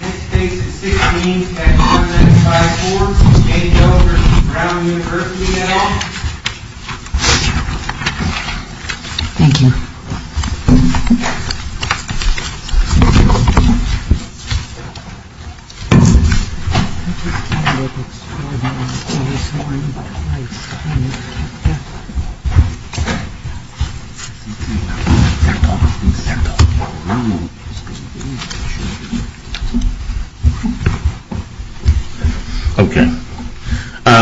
This case is 16-10954, Katie Doe v. Brown University, et al.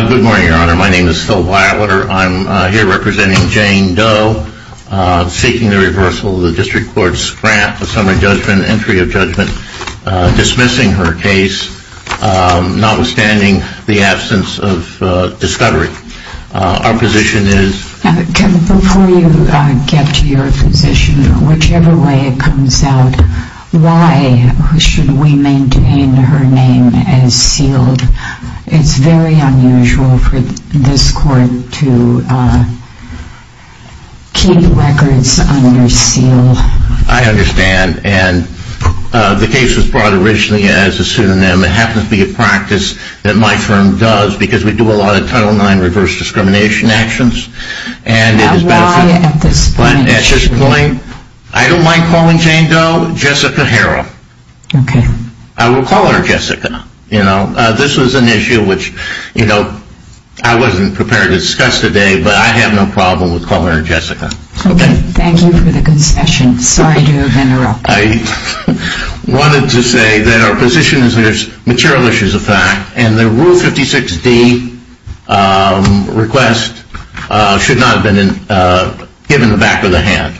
Good morning, Your Honor. My name is Phil Wilder. I'm here representing Jane Doe, seeking the reversal of the District Court's grant of summary judgment, entry of judgment, dismissing her case, notwithstanding the absence of discovery. Our position is... Before you get to your position, whichever way it comes out, why should we maintain her name as sealed? It's very unusual for this court to keep records under seal. I understand, and the case was brought originally as a pseudonym. It happens to be a practice that my firm does because we do a lot of Title IX reverse discrimination actions. Why at this point? I don't mind calling Jane Doe Jessica Harrell. I will call her Jessica. This was an issue which I wasn't prepared to discuss today, but I have no problem with calling her Jessica. Thank you for the concession. Sorry to interrupt. I wanted to say that our position is there's material issues of fact, and the Rule 56D request should not have been given the back of the hand.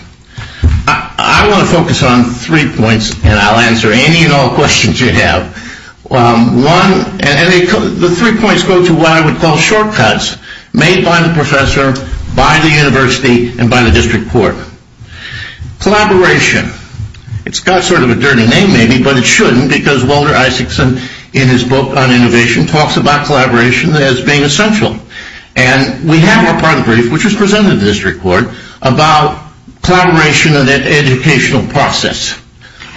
I want to focus on three points, and I'll answer any and all questions you have. The three points go to what I would call shortcuts made by the professor, by the university, and by the District Court. Collaboration. It's got sort of a dirty name maybe, but it shouldn't because Walter Isaacson, in his book on innovation, talks about collaboration as being essential. And we have our part of the brief, which was presented to the District Court, about collaboration and the educational process.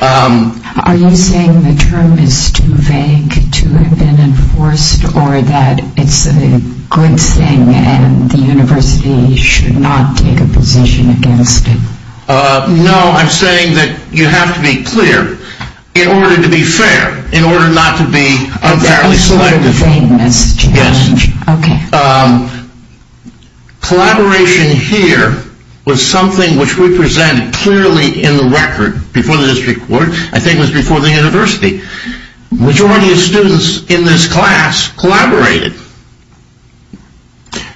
Are you saying the term is too vague to have been enforced, or that it's a good thing and the university should not take a position against it? No, I'm saying that you have to be clear in order to be fair, in order not to be unfairly selected. Collaboration here was something which we presented clearly in the record before the District Court, I think it was before the university. The majority of students in this class collaborated.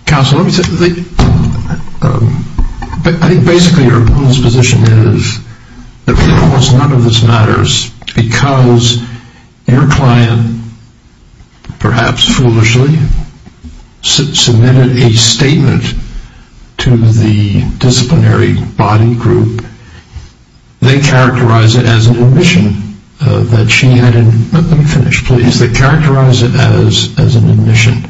Counsel, I think basically your opponent's position is that really almost none of this matters, because your client, perhaps foolishly, submitted a statement to the disciplinary body group. They characterize it as an admission that she had, let me finish please, they characterize it as an admission.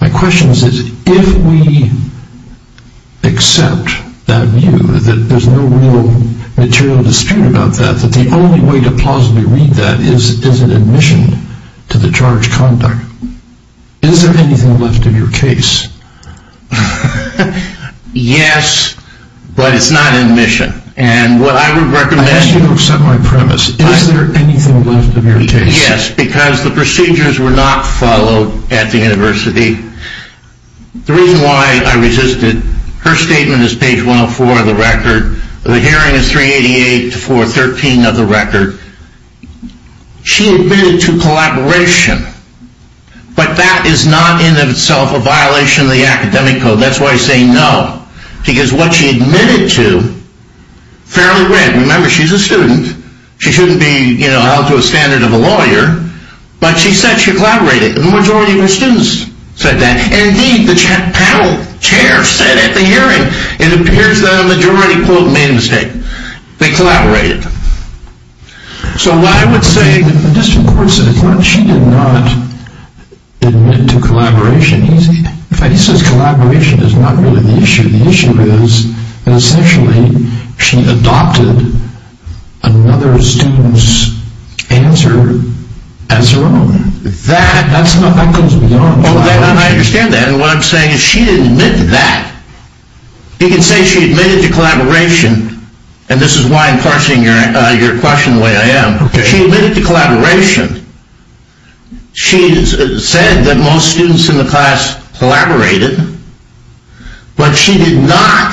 My question is, if we accept that view, that there's no real material dispute about that, that the only way to plausibly read that is an admission to the charged conduct. Is there anything left of your case? Yes, but it's not admission. And what I would recommend... I ask you to accept my premise. Is there anything left of your case? Yes, because the procedures were not followed at the university. The reason why I resisted, her statement is page 104 of the record, the hearing is 388 to 413 of the record. She admitted to collaboration, but that is not in itself a violation of the academic code, that's why I say no. Because what she admitted to, fairly read, remember she's a student, she shouldn't be out to a standard of a lawyer, but she said she collaborated. The majority of her students said that. Indeed, the panel chair said at the hearing, it appears that a majority quote made a mistake. They collaborated. So what I would say... The district court says she did not admit to collaboration. He says collaboration is not really the issue. The issue is, essentially, she adopted another student's answer as her own. That goes beyond... I understand that, and what I'm saying is she didn't admit to that. You can say she admitted to collaboration, and this is why I'm parsing your question the way I am. She admitted to collaboration. She said that most students in the class collaborated, but she did not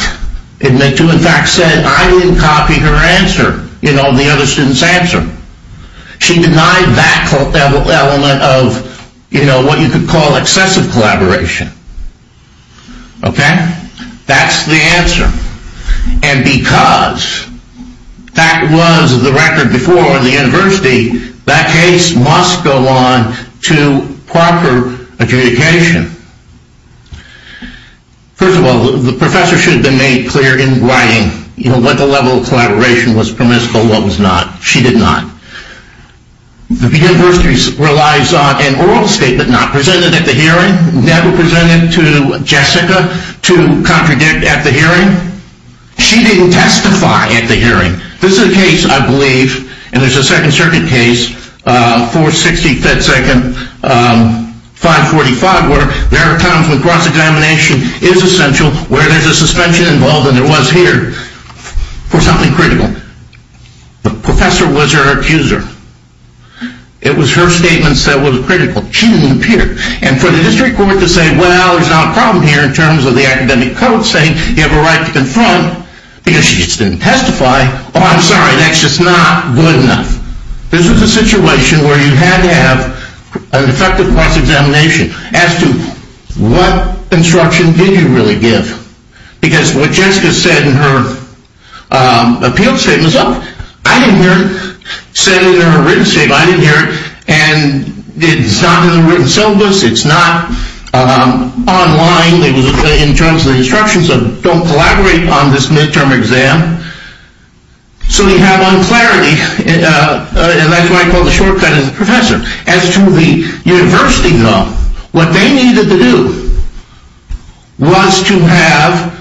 admit to, in fact said, I didn't copy her answer. You know, the other student's answer. She denied that element of, you know, what you could call excessive collaboration. Okay? That's the answer. And because that was the record before in the university, that case must go on to proper adjudication. First of all, the professor should have been made clear in writing, you know, what the level of collaboration was permissible, what was not. She did not. The university relies on an oral statement not presented at the hearing, never presented to Jessica to contradict at the hearing. She didn't testify at the hearing. This is a case, I believe, and there's a Second Circuit case, 460 FedSecond 545, where there are times when cross-examination is essential, where there's a suspension involved, and there was here, for something critical. The professor was her accuser. It was her statements that were critical. She didn't appear. And for the district court to say, well, there's not a problem here in terms of the academic code saying you have a right to confront because she just didn't testify, oh, I'm sorry, that's just not good enough. This was a situation where you had to have an effective cross-examination as to what instruction did you really give? Because what Jessica said in her appeal statement was, oh, I didn't hear it. Said it in her written statement, I didn't hear it. And it's not in the written syllabus. It's not online. It was in terms of the instructions of don't collaborate on this midterm exam. So you have unclarity. And that's why I call it a shortcut as a professor. As to the university law, what they needed to do was to have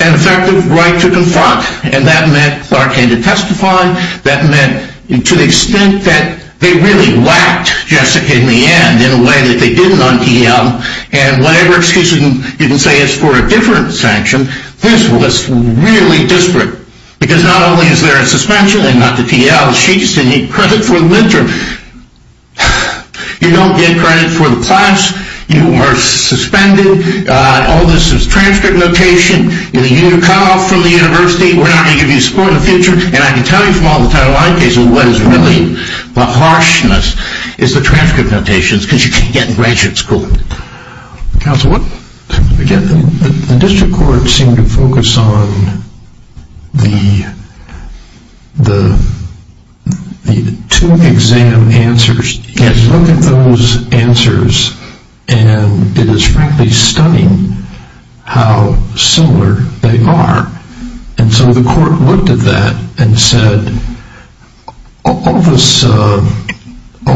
an effective right to confront. And that meant Clark had to testify. That meant to the extent that they really whacked Jessica in the end in a way that they didn't on TL. And whatever excuse you can say is for a different sanction, this was really disparate. Because not only is there a suspension and not the TL, she just didn't need credit for the midterm. You don't get credit for the class. You are suspended. All this is transcript notation. You're cut off from the university. We're not going to give you support in the future. And I can tell you from all the Title IX cases, what is really the harshness is the transcript notations. Because you can't get in graduate school. Counsel, what? Again, the district court seemed to focus on the two exam answers. Look at those answers, and it is frankly stunning how similar they are. And so the court looked at that and said, all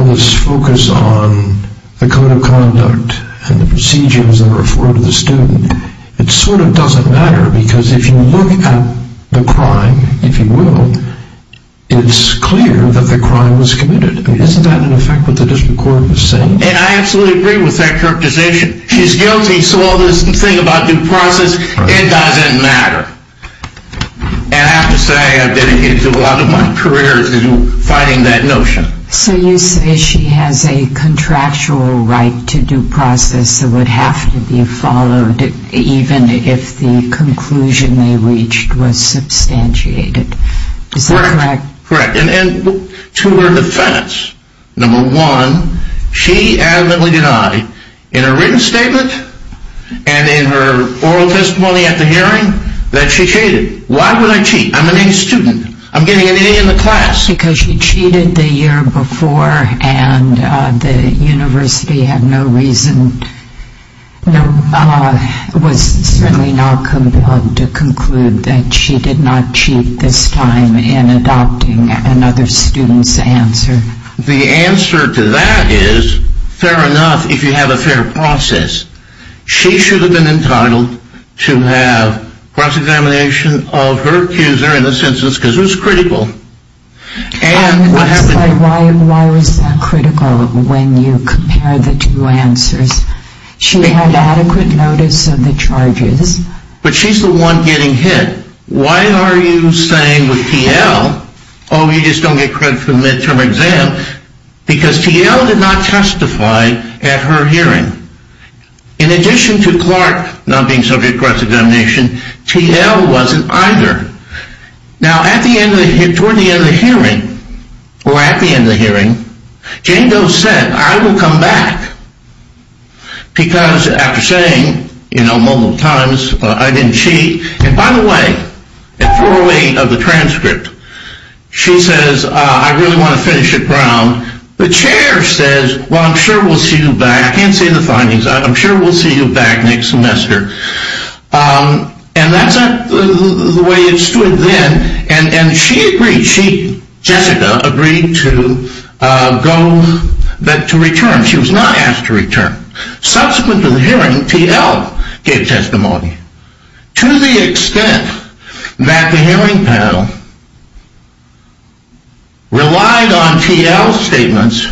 this focus on the code of conduct and the procedures that are afforded to the student, it sort of doesn't matter because if you look at the crime, if you will, it's clear that the crime was committed. I mean, isn't that in effect what the district court was saying? And I absolutely agree with that court decision. She's guilty, so all this thing about due process, it doesn't matter. And I have to say, I've dedicated a lot of my career to fighting that notion. So you say she has a contractual right to due process that would have to be followed even if the conclusion they reached was substantiated. Is that correct? Correct. And to her defense, number one, she adamantly denied in her written statement and in her oral testimony at the hearing that she cheated. Why would I cheat? I'm an A student. I'm getting an A in the class. Because she cheated the year before and the university had no reason, was certainly not compelled to conclude that she did not cheat this time in adopting another student's answer. The answer to that is fair enough if you have a fair process. She should have been entitled to have cross-examination of her accuser in this instance because it was critical. Why was that critical when you compared the two answers? She had adequate notice of the charges. But she's the one getting hit. Why are you saying with TL, oh, you just don't get credit for the midterm exam, because TL did not testify at her hearing. In addition to Clark not being subject to cross-examination, TL wasn't either. Now, toward the end of the hearing, or at the end of the hearing, Jane Doe said, I will come back. Because after saying, you know, multiple times, I didn't cheat. And by the way, at 4.08 of the transcript, she says, I really want to finish at Brown. The chair says, well, I'm sure we'll see you back. I can't see the findings. I'm sure we'll see you back next semester. And that's the way it stood then. And she agreed. She, Jessica, agreed to go, to return. She was not asked to return. Subsequent to the hearing, TL gave testimony. To the extent that the hearing panel relied on TL's statements,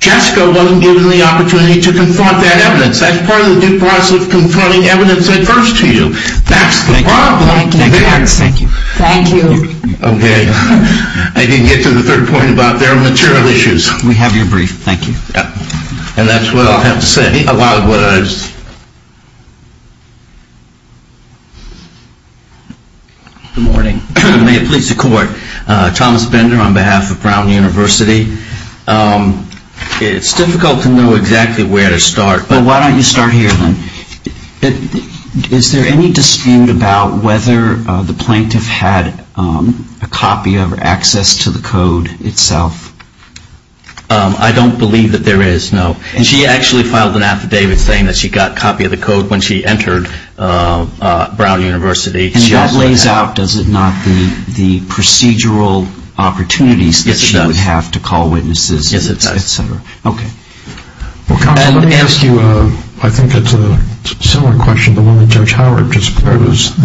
Jessica wasn't given the opportunity to confront that evidence. That's part of the due process of confronting evidence at first to you. That's the problem. Thank you. Okay. I didn't get to the third point about their material issues. We have your brief. Thank you. And that's what I'll have to say. A lot of words. Good morning. May it please the court. Thomas Bender on behalf of Brown University. It's difficult to know exactly where to start. Well, why don't you start here then. Is there any dispute about whether the plaintiff had a copy of or access to the code itself? I don't believe that there is, no. She actually filed an affidavit saying that she got a copy of the code when she entered Brown University. And that lays out, does it not, the procedural opportunities that she would have to call witnesses, et cetera. Yes, it does. Okay. Let me ask you, I think it's a similar question to the one that Judge Howard just posed.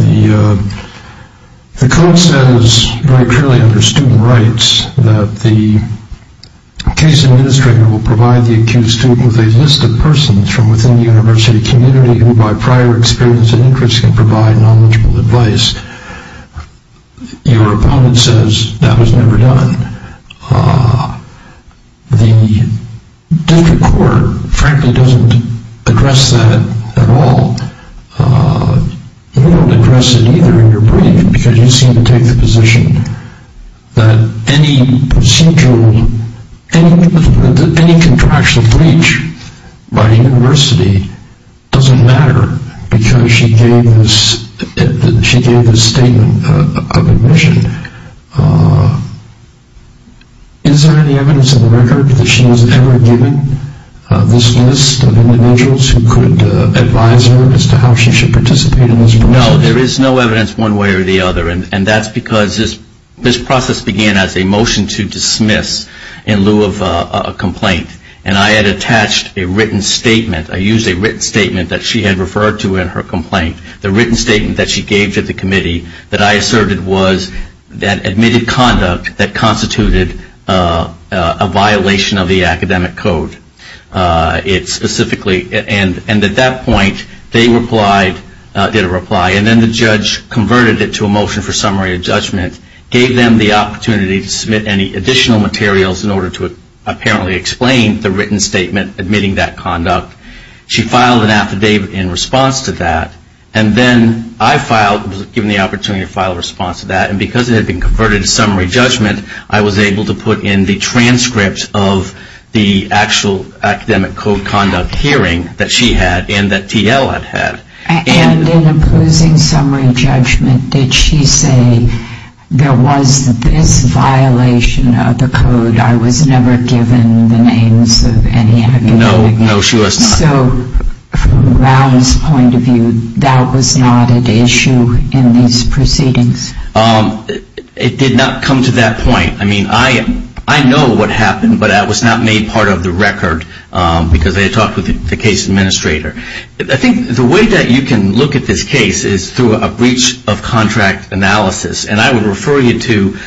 The code says very clearly under student rights that the case administrator will provide the accused student with a list of persons from within the university community who by prior experience and interest can provide knowledgeable advice. Your opponent says that was never done. The district court frankly doesn't address that at all. They don't address it either in your brief because you seem to take the position that any procedural, any contractual breach by the university doesn't matter because she gave a statement of admission. Is there any evidence in the record that she was ever given this list of individuals who could advise her as to how she should participate in this process? No, there is no evidence one way or the other. And that's because this process began as a motion to dismiss in lieu of a complaint. And I had attached a written statement. I used a written statement that she had referred to in her complaint. The written statement that she gave to the committee that I asserted was that admitted conduct that constituted a violation of the academic code. It specifically, and at that point they replied, did a reply, and then the judge converted it to a motion for summary of judgment, gave them the opportunity to submit any additional materials in order to apparently explain the written statement admitting that conduct. She filed an affidavit in response to that. And then I filed, was given the opportunity to file a response to that. And because it had been converted to summary judgment, I was able to put in the transcript of the actual academic code conduct hearing that she had and that TL had had. And in opposing summary judgment, did she say there was this violation of the code, I was never given the names of any academic? No, no, she was not. So from Brown's point of view, that was not an issue in these proceedings? It did not come to that point. I mean, I know what happened, but that was not made part of the record, because they had talked with the case administrator. I think the way that you can look at this case is through a breach of contract analysis. And I would refer you to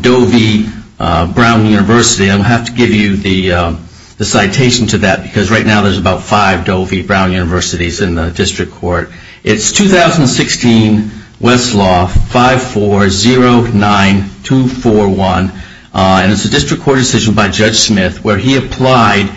Doe v. Brown University. I don't have to give you the citation to that, because right now there's about five Doe v. Brown universities in the district court. It's 2016 Westlaw 5409241, and it's a district court decision by Judge Smith where he applied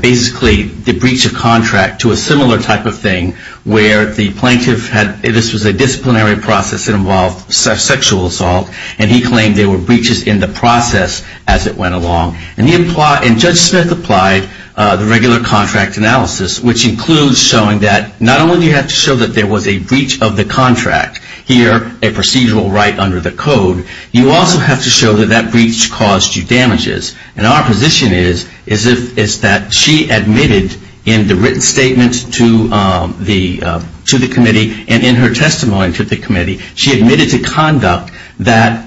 basically the breach of contract to a similar type of thing where the plaintiff had, this was a disciplinary process that involved sexual assault, and he claimed there were breaches in the process as it went along. And Judge Smith applied the regular contract analysis, which includes showing that not only do you have to show that there was a breach of the contract, here a procedural right under the code, you also have to show that that breach caused you damages. And our position is that she admitted in the written statement to the committee, and in her testimony to the committee, she admitted to conduct that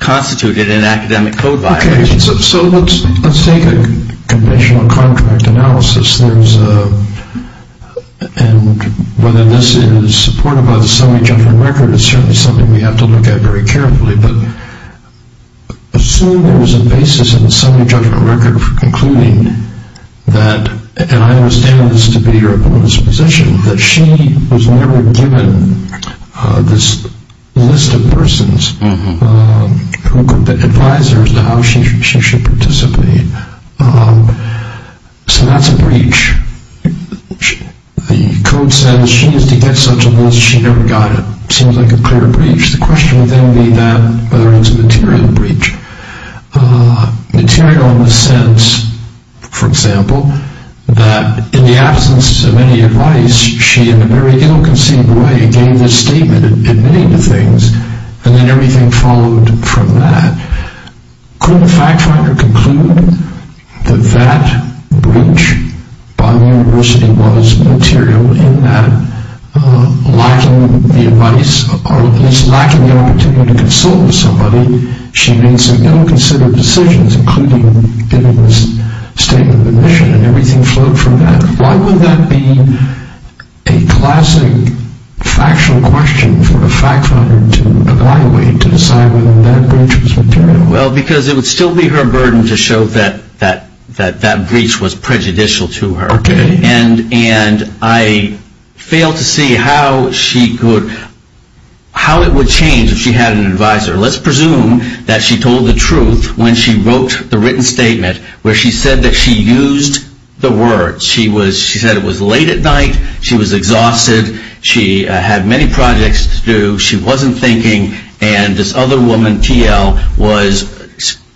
constituted an academic code violation. Okay. So let's take a conventional contract analysis. And whether this is supported by the summary judgment record is certainly something we have to look at very carefully. But assume there was a basis in the summary judgment record for concluding that, and I understand this to be your opponent's position, that she was never given this list of persons who could advise her as to how she should participate. So that's a breach. The code says she is to get such a list, she never got it. It seems like a clear breach. The question would then be that whether it's a material breach. Material in the sense, for example, that in the absence of any advice, she in a very ill-conceived way gave this statement admitting to things, and then everything followed from that. Could the fact finder conclude that that breach by the university was material in that lacking the advice or at least lacking the opportunity to consult with somebody, she made some ill-considered decisions, including giving this statement of admission, and everything flowed from that? Why would that be a classic factual question for the fact finder to evaluate to decide whether that breach was material? Well, because it would still be her burden to show that that breach was prejudicial to her. Okay. And I fail to see how it would change if she had an advisor. Let's presume that she told the truth when she wrote the written statement where she said that she used the words. She said it was late at night, she was exhausted, she had many projects to do, she wasn't thinking, and this other woman, TL, was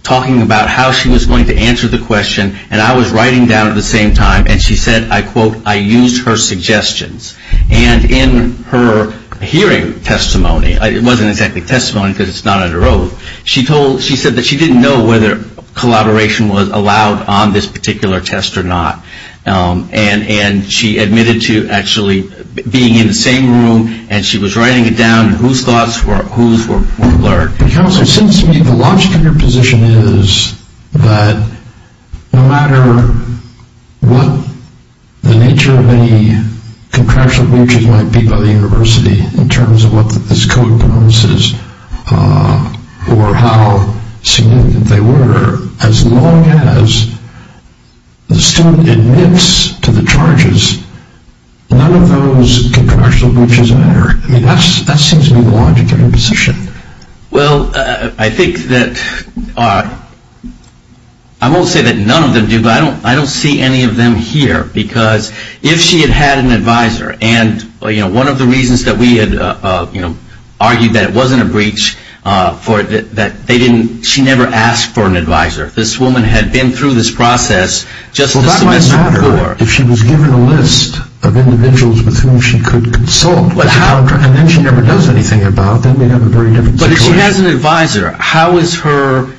talking about how she was going to answer the question, and I was writing down at the same time, and she said, I quote, I used her suggestions. And in her hearing testimony, it wasn't exactly testimony because it's not under oath, she said that she didn't know whether collaboration was allowed on this particular test or not, and she admitted to actually being in the same room, and she was writing it down, and whose thoughts were alert. Counselor, it seems to me the logic of your position is that no matter what the nature of any contractual breaches might be by the university, in terms of what this code promises or how significant they were, as long as the student admits to the charges, none of those contractual breaches matter. That seems to be the logic of your position. Well, I think that, I won't say that none of them do, but I don't see any of them here, because if she had had an advisor, and one of the reasons that we had argued that it wasn't a breach, that she never asked for an advisor. This woman had been through this process just a semester before. If she was given a list of individuals with whom she could consult, and then she never does anything about, that may have a very different situation. But if she has an advisor, how is her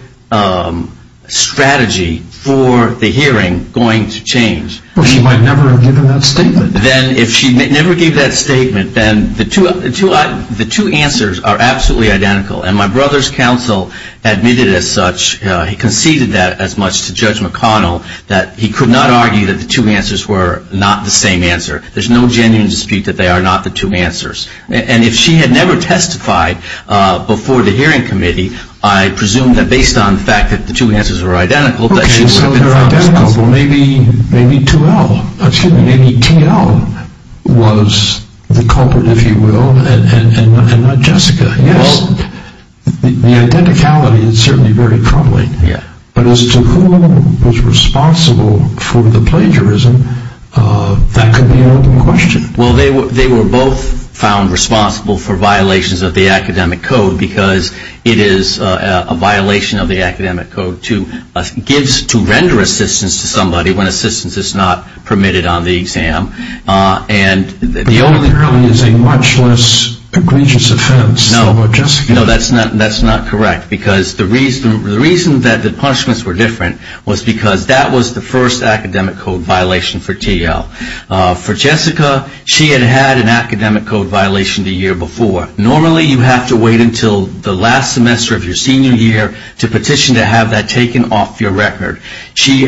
strategy for the hearing going to change? Well, she might never have given that statement. Then if she never gave that statement, then the two answers are absolutely identical, and my brother's counsel admitted as such, he conceded that as much to Judge McConnell, that he could not argue that the two answers were not the same answer. There's no genuine dispute that they are not the two answers. And if she had never testified before the hearing committee, I presume that based on the fact that the two answers were identical, that she would have been found guilty. Okay, so they're identical. Well, maybe 2L, excuse me, maybe T.L. was the culprit, if you will, and not Jessica. Well, the identicality is certainly very troubling. But as to who was responsible for the plagiarism, that could be another question. Well, they were both found responsible for violations of the academic code, because it is a violation of the academic code to render assistance to somebody when assistance is not permitted on the exam. And the only reason is a much less egregious offense. No, that's not correct. Because the reason that the punishments were different was because that was the first academic code violation for T.L. For Jessica, she had had an academic code violation the year before. Normally, you have to wait until the last semester of your senior year to petition to have that taken off your record. She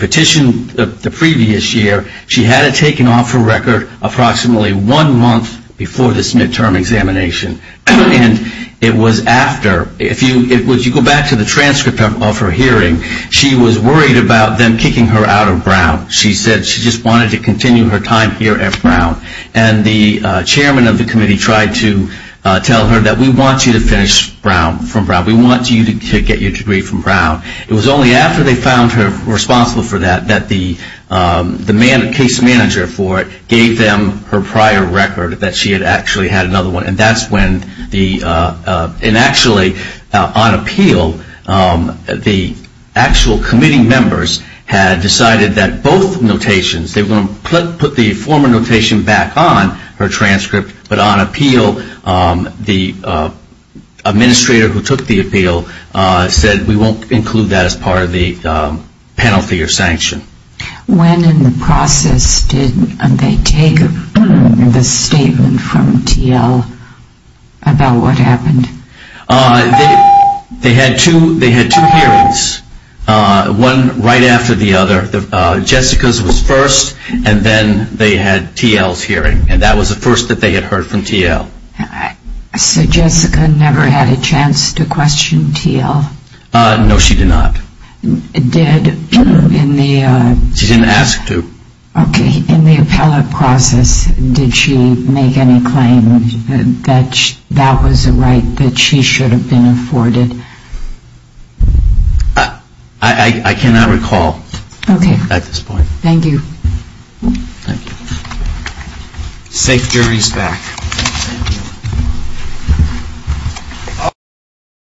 petitioned the previous year. She had it taken off her record approximately one month before this midterm examination. And it was after. If you go back to the transcript of her hearing, she was worried about them kicking her out of Brown. She said she just wanted to continue her time here at Brown. And the chairman of the committee tried to tell her that we want you to finish from Brown. We want you to get your degree from Brown. It was only after they found her responsible for that that the case manager for it gave them her prior record, that she had actually had another one. And that's when the – and actually, on appeal, the actual committee members had decided that both notations, they were going to put the former notation back on her transcript. But on appeal, the administrator who took the appeal said, we won't include that as part of the penalty or sanction. When in the process did they take the statement from T.L. about what happened? They had two hearings, one right after the other. Jessica's was first, and then they had T.L.'s hearing. And that was the first that they had heard from T.L. So Jessica never had a chance to question T.L.? No, she did not. Did in the – She didn't ask to. Okay. In the appellate process, did she make any claim that that was a right that she should have been afforded? I cannot recall at this point. Okay. Thank you. Thank you. Safe juries back.